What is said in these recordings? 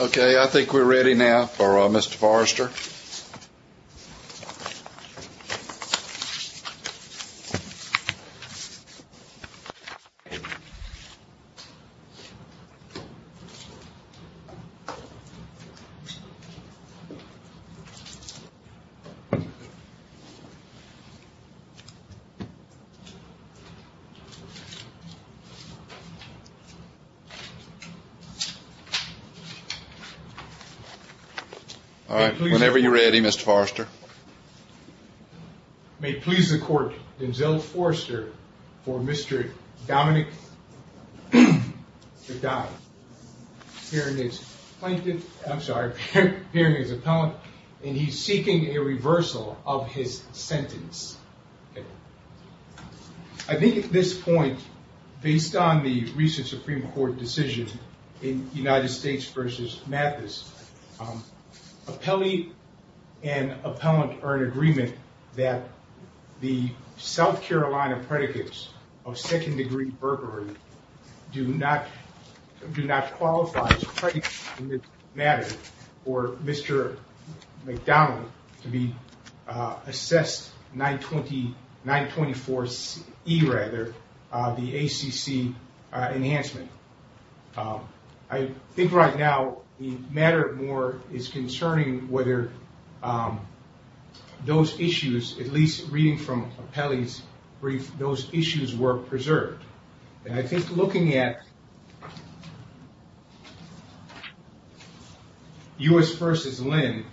Okay, I think we're ready now for Mr. Forrester. All right, whenever you're ready, Mr. Forrester. May it please the court, Denzel Forrester for Mr. Dominic McDonald, hearing his plaintiff, I'm sorry, hearing his appellant, and he's seeking a reversal of his sentence. I think at this point, based on the recent Supreme Court decision in United States v. Mathis, appellee and appellant are in agreement that the South Carolina predicates of second degree burglary do not qualify as predicates in this matter for Mr. McDonald to be assessed 19 years. 924E rather, the ACC enhancement. I think right now the matter of more is concerning whether those issues, at least reading from appellee's brief, those issues were preserved. And I think looking at U.S. v. Lynn,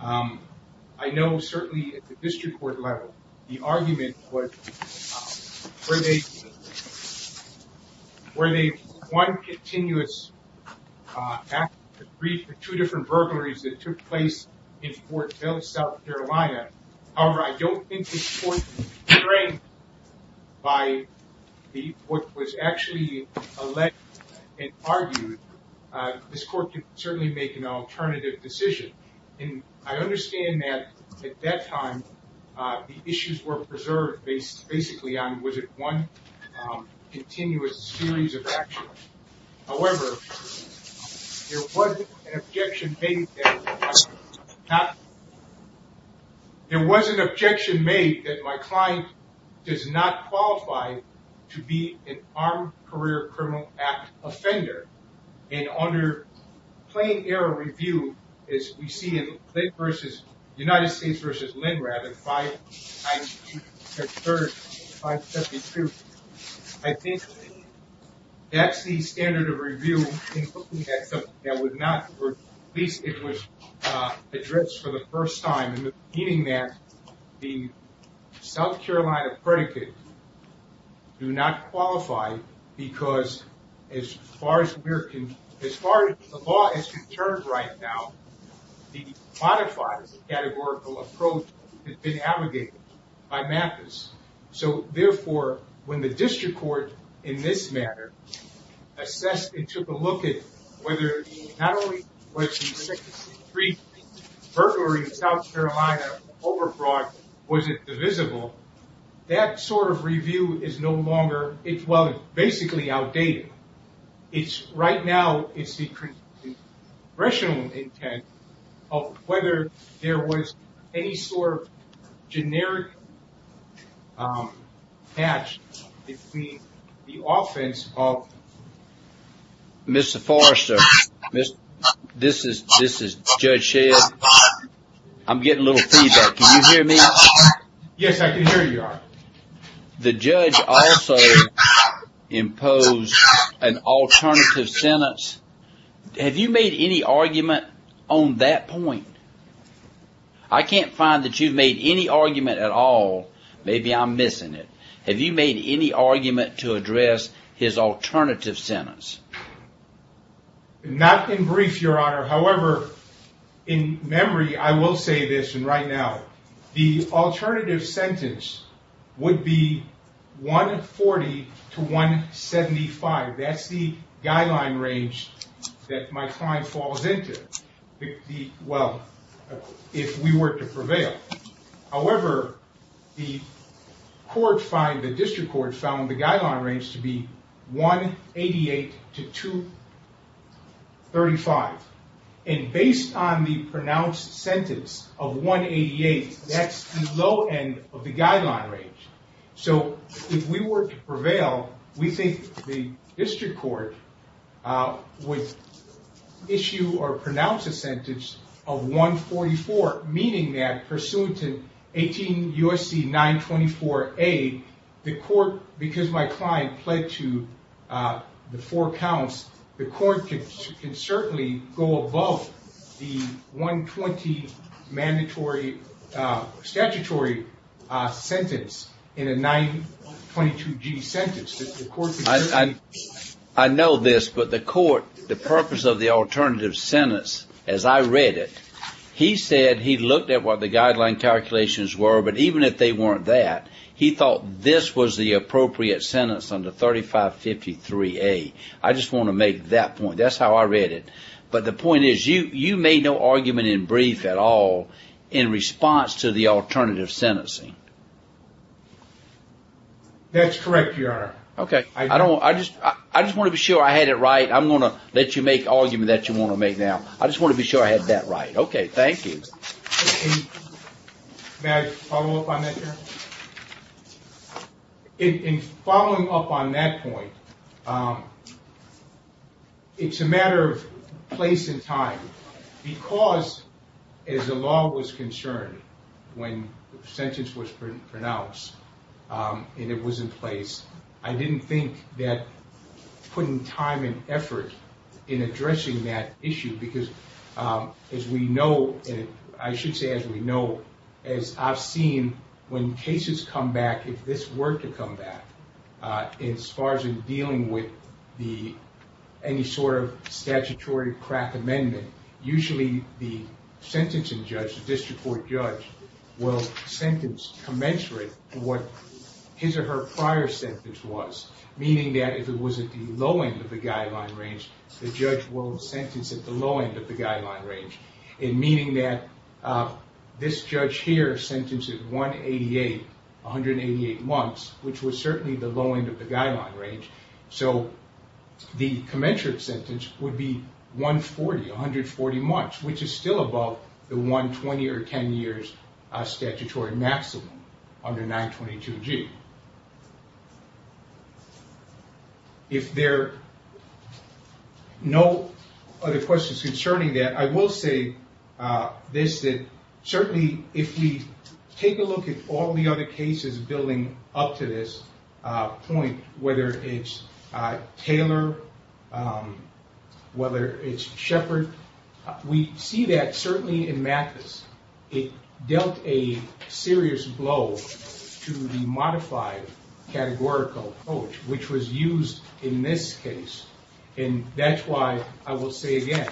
I know certainly at the district court level, the argument was, were they one continuous brief for two different burglaries that took place in Fort Mill, South Carolina. However, I don't think this court was constrained by what was actually alleged and argued. This court can certainly make an alternative decision. And I understand that at that time, the issues were preserved based basically on was it one continuous series of actions. However, there was an objection made that my client does not qualify to be an armed career criminal act offender. And under plain error review, as we see in United States v. Lynn rather, I think that's the standard of review that would not, or at least it was addressed for the first time. Meaning that the South Carolina predicate do not qualify because as far as the law is concerned right now, the modified categorical approach has been abrogated by MAPIS. So therefore, when the district court in this matter assessed and took a look at whether not only was the second brief burglary in South Carolina overbroad, was it divisible, that sort of review is no longer, it's well, basically outdated. Right now, it's the congressional intent of whether there was any sort of generic patch between the offense of Mr. Forrester. This is Judge Shea. I'm getting a little feedback. Can you hear me? Yes, I can hear you. The judge also imposed an alternative sentence. Have you made any argument on that point? I can't find that you've made any argument at all. Maybe I'm missing it. Have you made any argument to address his alternative sentence? Not in brief, Your Honor. However, in memory, I will say this. And right now, the alternative sentence would be 140 to 175. That's the guideline range that my client falls into. However, the district court found the guideline range to be 188 to 235. And based on the pronounced sentence of 188, that's the low end of the guideline range. So if we were to prevail, we think the district court would issue or pronounce a sentence of 144, meaning that pursuant to 18 U.S.C. 924A, the court, because my client pled to the four counts, the court can certainly go above the 120 mandatory statutory sentence in a 922G sentence. I know this, but the court, the purpose of the alternative sentence, as I read it, he said he looked at what the guideline calculations were. But even if they weren't that, he thought this was the appropriate sentence under 3553A. I just want to make that point. That's how I read it. But the point is, you made no argument in brief at all in response to the alternative sentencing. That's correct, Your Honor. Okay. I just want to be sure I had it right. I'm going to let you make argument that you want to make now. I just want to be sure I had that right. Okay. Thank you. May I follow up on that, Your Honor? In following up on that point, it's a matter of place and time. Because, as the law was concerned when the sentence was pronounced and it was in place, I didn't think that putting time and effort in addressing that issue, because as we know, I should say as we know, as I've seen, when cases come back, if this were to come back, as far as in dealing with any sort of statutory crack amendment, usually the sentencing judge, the district court judge, will sentence commensurate to what his or her prior sentence was. Meaning that if it was at the low end of the guideline range, the judge will sentence at the low end of the guideline range. Meaning that this judge here sentenced at 188, 188 months, which was certainly the low end of the guideline range. So the commensurate sentence would be 140, 140 months, which is still above the 120 or 10 years statutory maximum under 922G. If there are no other questions concerning that, I will say this, that certainly if we take a look at all the other cases building up to this point, whether it's Taylor, whether it's Shepard, we see that certainly in Mathis, it dealt a serious blow to the modified categorical approach, which was used in this case. And that's why I will say again,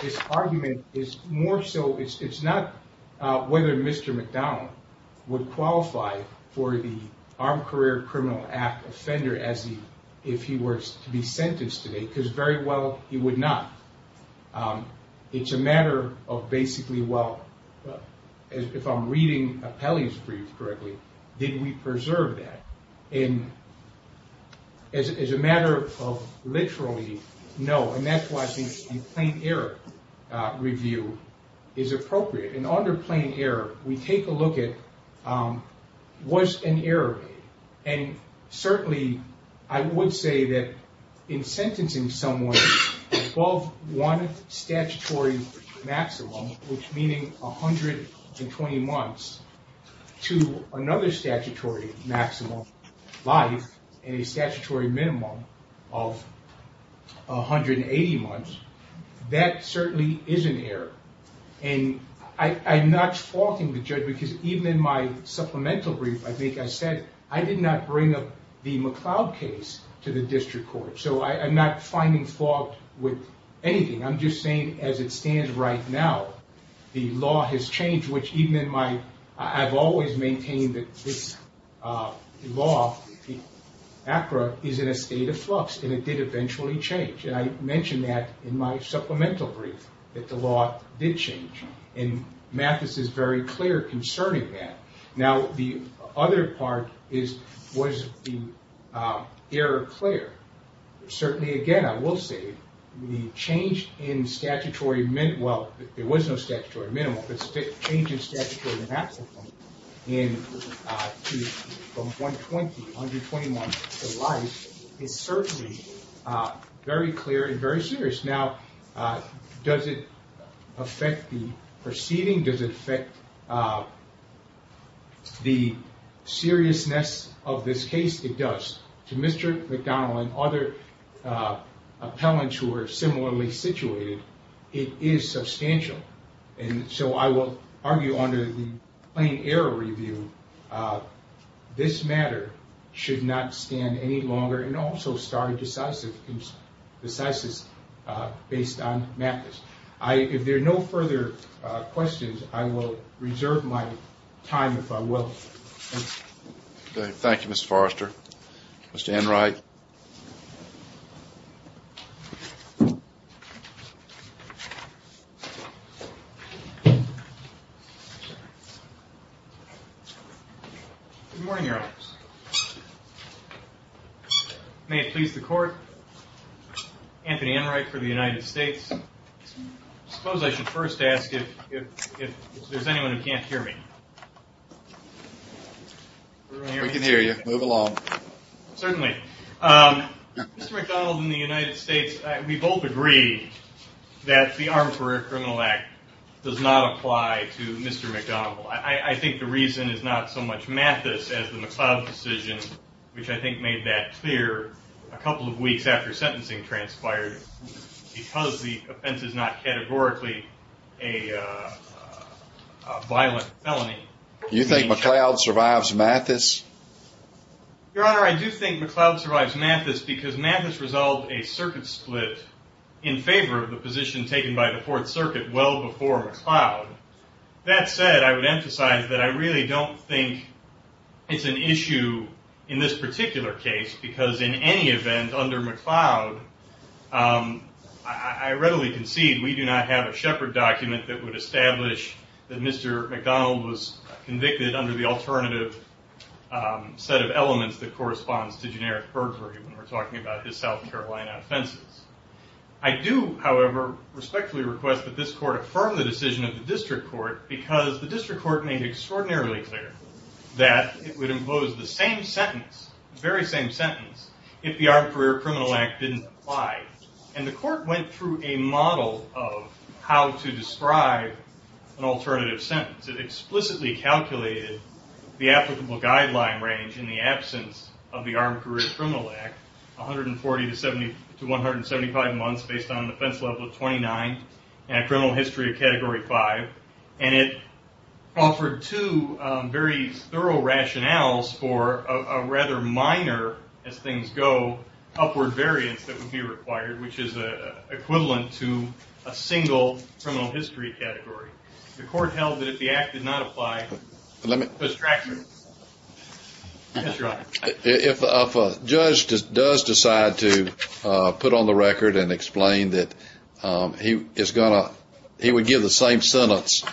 this argument is more so, it's not whether Mr. McDonald would qualify for the Armed Career Criminal Act offender if he were to be sentenced today, because very well he would not. It's a matter of basically, well, if I'm reading Pelley's brief correctly, did we preserve that? And as a matter of literally, no. And that's why I think the plain error review is appropriate. And under plain error, we take a look at, was an error made? And certainly I would say that in sentencing someone above one statutory maximum, which meaning 120 months, to another statutory maximum life and a statutory minimum of 180 months, that certainly is an error. And I'm not faulting the judge because even in my supplemental brief, I think I said I did not bring up the McLeod case to the district court. So I'm not finding fault with anything. I'm just saying as it stands right now, the law has changed, which even in my, I've always maintained that this law, ACRA, is in a state of flux and it did eventually change. And I mentioned that in my supplemental brief, that the law did change. And Mathis is very clear concerning that. Now, the other part is, was the error clear? Certainly again, I will say the change in statutory minimum, well, there was no statutory minimum, but the change in statutory maximum from 120 months to life is certainly very clear and very serious. Now, does it affect the proceeding? Does it affect the seriousness of this case? It does. To Mr. McDonald and other appellants who are similarly situated, it is substantial. And so I will argue under the plain error review, this matter should not stand any longer and also start a decisive basis based on Mathis. If there are no further questions, I will reserve my time, if I will. Thank you, Mr. Forrester. Mr. Enright. Good morning, Your Honors. May it please the Court, Anthony Enright for the United States. I suppose I should first ask if there's anyone who can't hear me. We can hear you. Move along. Certainly. Mr. McDonald and the United States, we both agree that the Armed Career Criminal Act does not apply to Mr. McDonald. I think the reason is not so much Mathis as the McLeod decision, which I think made that clear a couple of weeks after sentencing transpired, because the offense is not categorically a violent felony. Do you think McLeod survives Mathis? Your Honor, I do think McLeod survives Mathis because Mathis resolved a circuit split in favor of the position taken by the Fourth Circuit well before McLeod. That said, I would emphasize that I really don't think it's an issue in this particular case, because in any event under McLeod, I readily concede we do not have a Shepard document that would establish that Mr. McDonald was convicted under the alternative set of elements that corresponds to generic burglary when we're talking about his South Carolina offenses. I do, however, respectfully request that this Court affirm the decision of the District Court, because the District Court made extraordinarily clear that it would impose the same sentence, the very same sentence, if the Armed Career Criminal Act didn't apply. And the Court went through a model of how to describe an alternative sentence. It explicitly calculated the applicable guideline range in the absence of the Armed Career Criminal Act, 140 to 175 months, based on an offense level of 29, and a criminal history of Category 5. And it offered two very thorough rationales for a rather minor, as things go, upward variance that would be required, which is equivalent to a single criminal history category. The Court held that if the Act did not apply, the structure would. Yes, Your Honor. If a judge does decide to put on the record and explain that he would give the same sentence,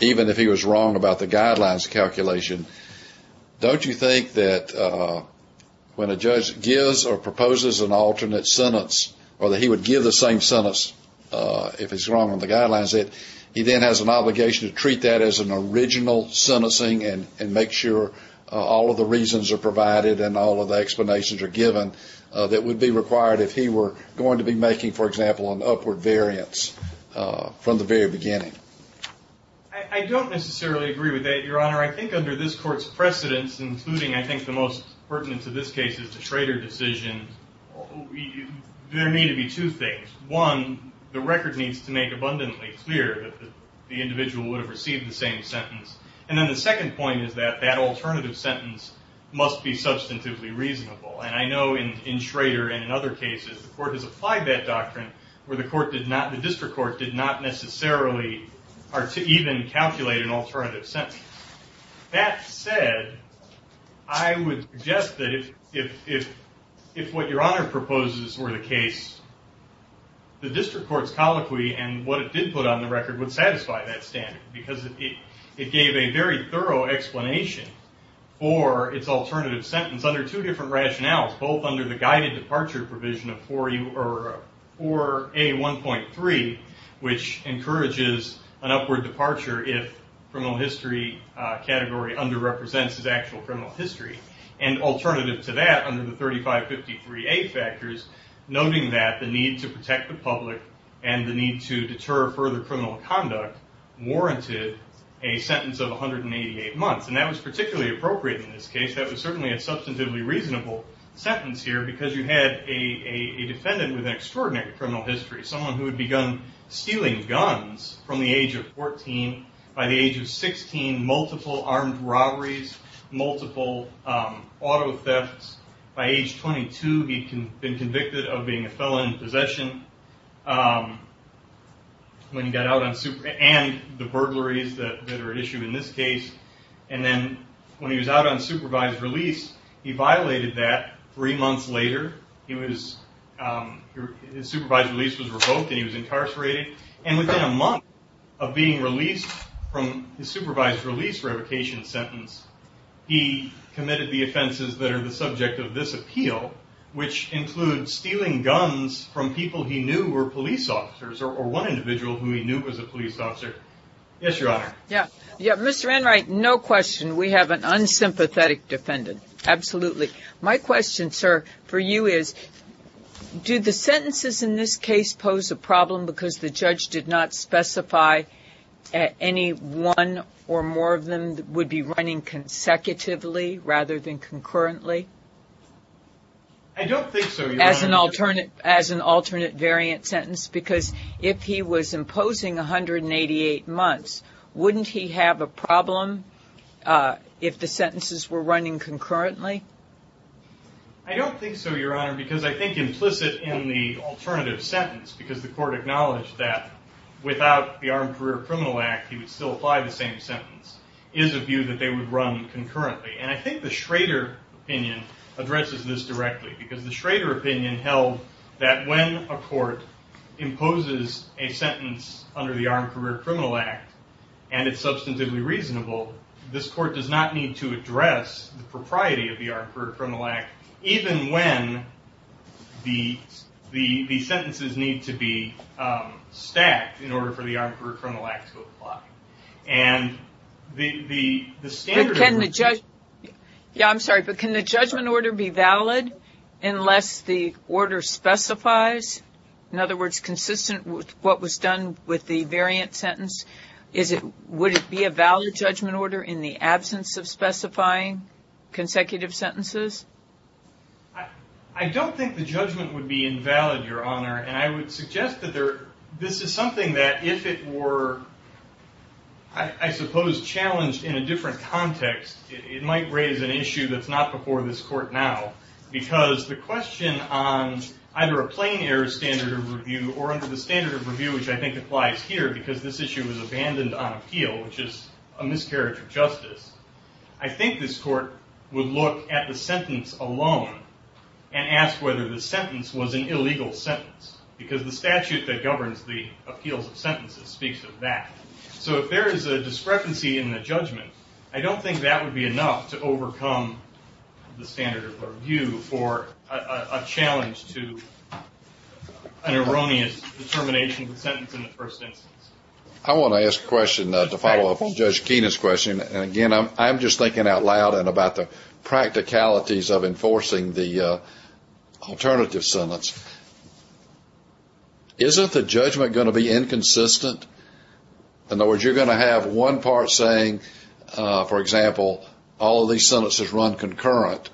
even if he was wrong about the guidelines calculation, don't you think that when a judge gives or proposes an alternate sentence, or that he would give the same sentence if he's wrong on the guidelines, that he then has an obligation to treat that as an original sentencing and make sure all of the reasons are provided and all of the explanations are given that would be required if he were going to be making, for example, an upward variance from the very beginning? I don't necessarily agree with that, Your Honor. I think under this Court's precedence, including, I think, the most pertinent to this case is the Schrader decision, there need to be two things. One, the record needs to make abundantly clear that the individual would have received the same sentence. And then the second point is that that alternative sentence must be substantively reasonable. And I know in Schrader and in other cases, the Court has applied that doctrine where the District Court did not necessarily even calculate an alternative sentence. That said, I would suggest that if what Your Honor proposes were the case, the District Court's colloquy and what it did put on the record would satisfy that standard because it gave a very thorough explanation for its alternative sentence under two different rationales, both under the guided departure provision of 4A1.3, which encourages an upward departure if criminal history category under-represents his actual criminal history. And alternative to that, under the 3553A factors, noting that the need to protect the public and the need to deter further criminal conduct warranted a sentence of 188 months. And that was particularly appropriate in this case. That was certainly a substantively reasonable sentence here because you had a defendant with an extraordinary criminal history, someone who had begun stealing guns from the age of 14. By the age of 16, multiple armed robberies, multiple auto thefts. By age 22, he'd been convicted of being a felon in possession and the burglaries that are at issue in this case. And then when he was out on supervised release, he violated that three months later. His supervised release was revoked and he was incarcerated. And within a month of being released from his supervised release revocation sentence, he committed the offenses that are the subject of this appeal, which include stealing guns from people he knew were police officers or one individual who he knew was a police officer. Yes, Your Honor. Yeah. Yeah, Mr. Enright, no question. We have an unsympathetic defendant. Absolutely. My question, sir, for you is, do the sentences in this case pose a problem because the judge did not specify any one or more of them would be running consecutively rather than concurrently? I don't think so, Your Honor. As an alternate variant sentence? Because if he was imposing 188 months, wouldn't he have a problem if the sentences were running concurrently? I don't think so, Your Honor, because I think implicit in the alternative sentence, because the court acknowledged that without the Armed Career Criminal Act, he would still apply the same sentence, is a view that they would run concurrently. And I think the Schrader opinion addresses this directly because the Schrader opinion held that when a court imposes a sentence under the Armed Career Criminal Act and it's substantively reasonable, this court does not need to address the propriety of the Armed Career Criminal Act even when the sentences need to be stacked in order for the Armed Career Criminal Act to apply. And the standard of... Yeah, I'm sorry, but can the judgment order be valid unless the order specifies, in other words, consistent with what was done with the variant sentence? Would it be a valid judgment order in the absence of specifying consecutive sentences? I don't think the judgment would be invalid, Your Honor, and I would suggest that this is something that if it were, I suppose, challenged in a different context, it might raise an issue that's not before this court now because the question on either a plain error standard of review or under the standard of review, which I think applies here, because this issue was abandoned on appeal, which is a miscarriage of justice, I think this court would look at the sentence alone and ask whether the sentence was an illegal sentence because the statute that governs the appeals of sentences speaks of that. So if there is a discrepancy in the judgment, I don't think that would be enough to overcome the standard of review for a challenge to an erroneous determination of the sentence in the first instance. I want to ask a question to follow up on Judge Keenan's question. And, again, I'm just thinking out loud and about the practicalities of enforcing the alternative sentence. Isn't the judgment going to be inconsistent? In other words, you're going to have one part saying, for example, all of these sentences run concurrent,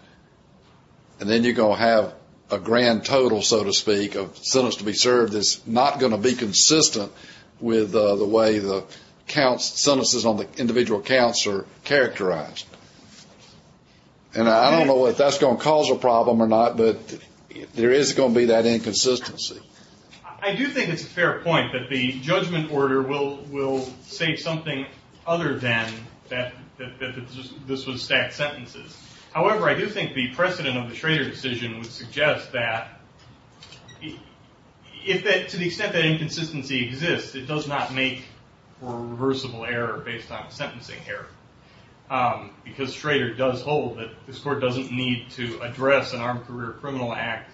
and then you're going to have a grand total, so to speak, of sentences to be served that's not going to be consistent with the way the sentences on the individual counts are characterized. And I don't know if that's going to cause a problem or not, but there is going to be that inconsistency. I do think it's a fair point that the judgment order will say something other than that this was stacked sentences. However, I do think the precedent of the Schrader decision would suggest that to the extent that inconsistency exists, it does not make for a reversible error based on a sentencing error, because Schrader does hold that this court doesn't need to address an Armed Career Criminal Act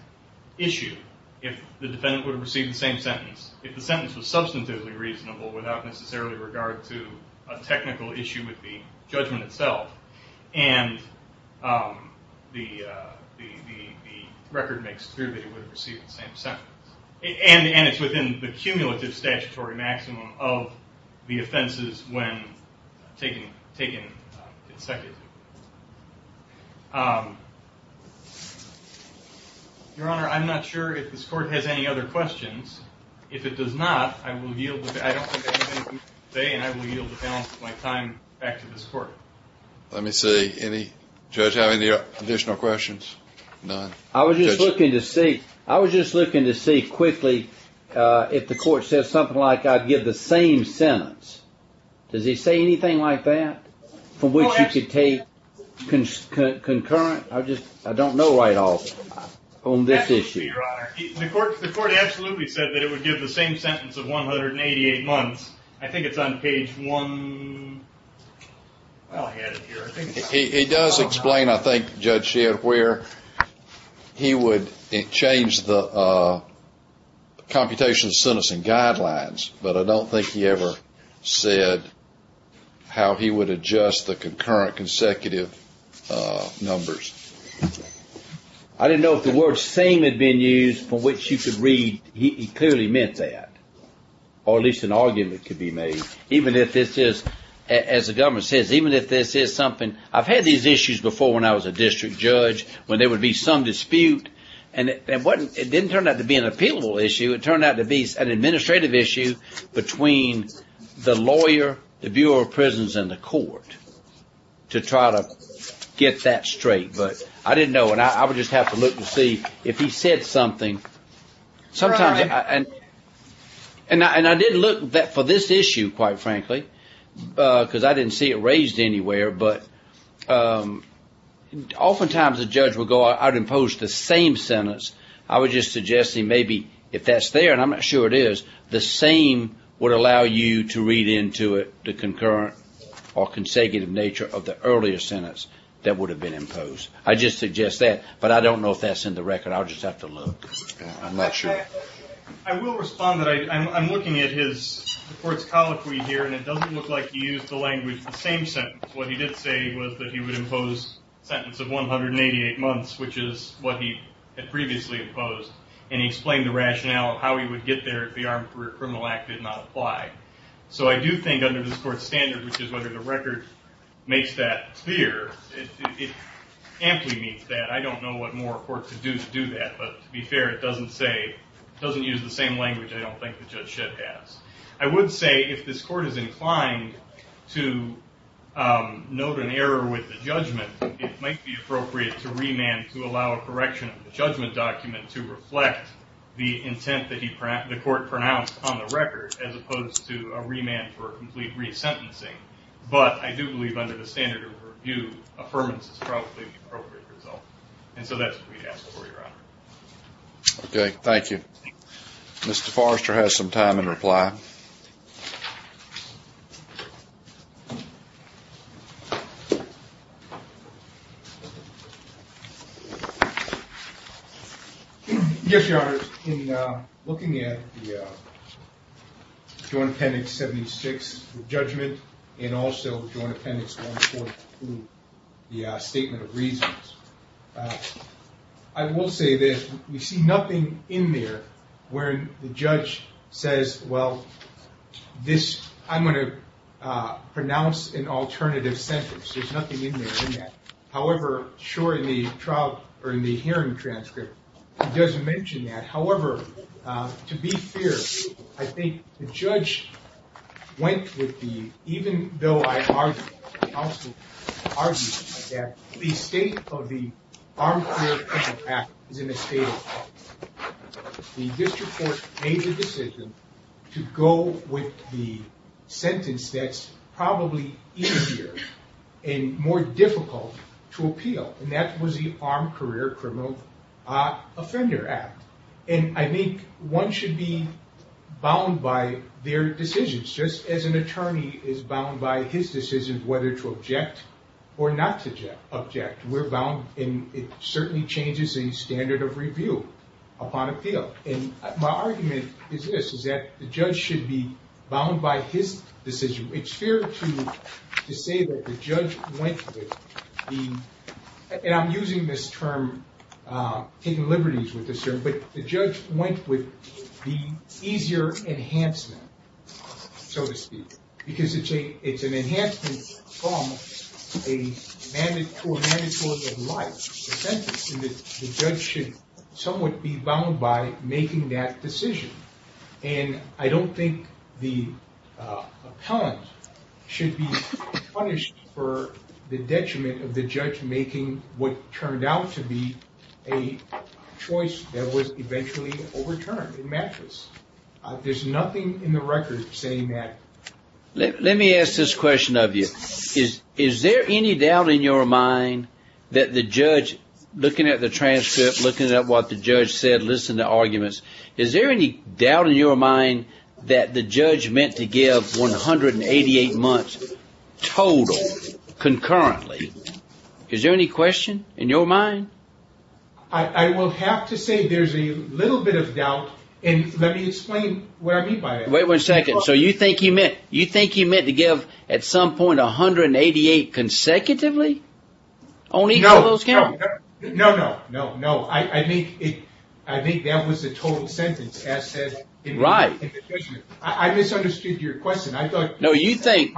issue if the defendant would have received the same sentence. If the sentence was substantively reasonable without necessarily regard to a technical issue with the judgment itself, and the record makes it clear that it would have received the same sentence. And it's within the cumulative statutory maximum of the offenses when taken consecutively. Your Honor, I'm not sure if this court has any other questions. If it does not, I don't think I have anything to say, and I will yield the balance of my time back to this court. Let me see. Judge, do you have any additional questions? None. I was just looking to see quickly if the court says something like, I'd give the same sentence. Does he say anything like that? From which you could take concurrent? I don't know right off on this issue. Your Honor, the court absolutely said that it would give the same sentence of 188 months. I think it's on page one. It does explain, I think, Judge Shedd, where he would change the computation sentencing guidelines, but I don't think he ever said how he would adjust the concurrent consecutive numbers. I didn't know if the word same had been used for which you could read. He clearly meant that. Or at least an argument could be made, even if this is, as the government says, even if this is something, I've had these issues before when I was a district judge, when there would be some dispute, and it didn't turn out to be an appealable issue. It turned out to be an administrative issue between the lawyer, the Bureau of Prisons, and the court to try to get that straight. But I didn't know, and I would just have to look to see if he said something. Sometimes, and I did look for this issue, quite frankly, because I didn't see it raised anywhere, but oftentimes a judge would go out and impose the same sentence. I would just suggest to him maybe if that's there, and I'm not sure it is, the same would allow you to read into it the concurrent or consecutive nature of the earlier sentence that would have been imposed. I'd just suggest that, but I don't know if that's in the record. I'll just have to look. I'm not sure. I will respond. I'm looking at the court's colloquy here, and it doesn't look like he used the language, the same sentence. What he did say was that he would impose a sentence of 188 months, which is what he had previously imposed, and he explained the rationale of how he would get there if the Armed Career Criminal Act did not apply. So I do think under this court's standard, which is whether the record makes that clear, it amply meets that. I don't know what more a court could do to do that, but to be fair, it doesn't use the same language I don't think that Judge Shedd has. I would say if this court is inclined to note an error with the judgment, it might be appropriate to remand to allow a correction of the judgment document to reflect the intent that the court pronounced on the record as opposed to a remand for complete resentencing. But I do believe under the standard of review, affirmance is probably the appropriate result. And so that's what we have before you, Your Honor. Okay. Thank you. Mr. Forrester has some time in reply. Yes, Your Honor. In looking at the Joint Appendix 76 judgment and also Joint Appendix 142, the statement of reasons, I will say that we see nothing in there where the judge says, well, I'm going to pronounce an alternative sentence. There's nothing in there in that. However, sure, in the hearing transcript, it does mention that. However, to be fair, I think the judge went with the, even though I argued, I also argued that the state of the Armed Career Criminals Act is in a state of argument. The district court made the decision to go with the sentence that's probably easier and more difficult to appeal, and that was the Armed Career Criminal Offender Act. And I think one should be bound by their decisions, just as an attorney is bound by his decision whether to object or not to object. We're bound, and it certainly changes the standard of review upon appeal. And my argument is this, is that the judge should be bound by his decision. It's fair to say that the judge went with the, and I'm using this term, taking liberties with this term, but the judge went with the easier enhancement, so to speak, because it's an enhancement from a mandatory of life sentence, and the judge should somewhat be bound by making that decision. And I don't think the appellant should be punished for the detriment of the judge making what turned out to be a choice that was eventually overturned in mattress. There's nothing in the record saying that. Let me ask this question of you. Is there any doubt in your mind that the judge, looking at the transcript, looking at what the judge said, listening to arguments, is there any doubt in your mind that the judge meant to give 188 months total, concurrently? Is there any question in your mind? I will have to say there's a little bit of doubt, and let me explain what I mean by that. Wait one second. So you think he meant to give at some point 188 consecutively? No, no, no. I think that was the total sentence as said in the judgment. I misunderstood your question. No, you think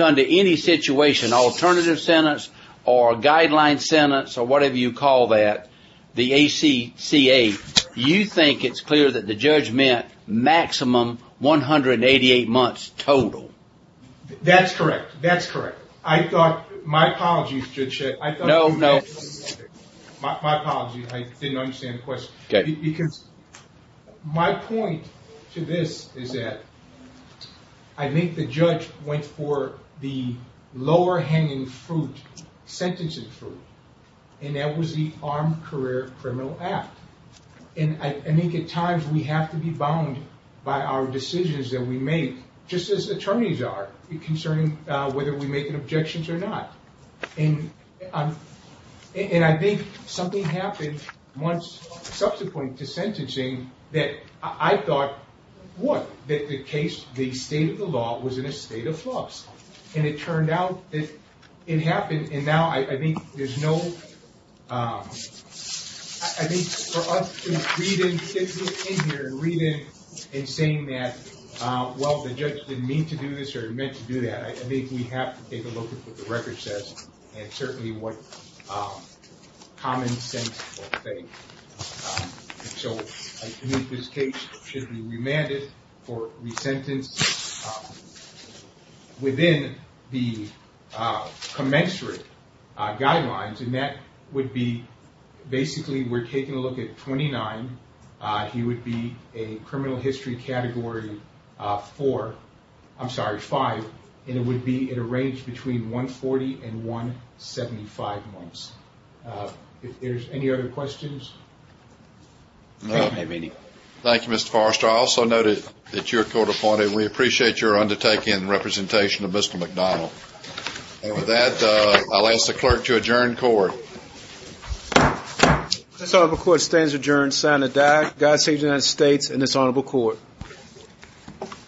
under any situation, alternative sentence or guideline sentence or whatever you call that, the ACCA, you think it's clear that the judge meant maximum 188 months total? That's correct. That's correct. I thought my apologies, Judge Shed. No, no. My apologies. I didn't understand the question. Okay. Because my point to this is that I think the judge went for the lower hanging fruit, sentencing fruit, and that was the Armed Career Criminal Act. And I think at times we have to be bound by our decisions that we make, just as attorneys are, concerning whether we make objections or not. And I think something happened once subsequent to sentencing that I thought, what? That the case, the state of the law was in a state of flux. And it turned out that it happened, and now I think there's no, I think for us to read in, get in here and read in and saying that, well, the judge didn't mean to do this or meant to do that, I think we have to take a look at what the record says and certainly what common sense will say. So I think this case should be remanded for resentence within the commensurate guidelines, and that would be basically we're taking a look at 29. He would be a criminal history category four, I'm sorry, five, and it would be in a range between 140 and 175 months. If there's any other questions. No. Thank you, Mr. Forrester. I also noted that you're court appointed. We appreciate your undertaking and representation of Mr. McDonald. And with that, I'll ask the clerk to adjourn court. So the court stands adjourned. Santa died. God save the United States and this honorable court.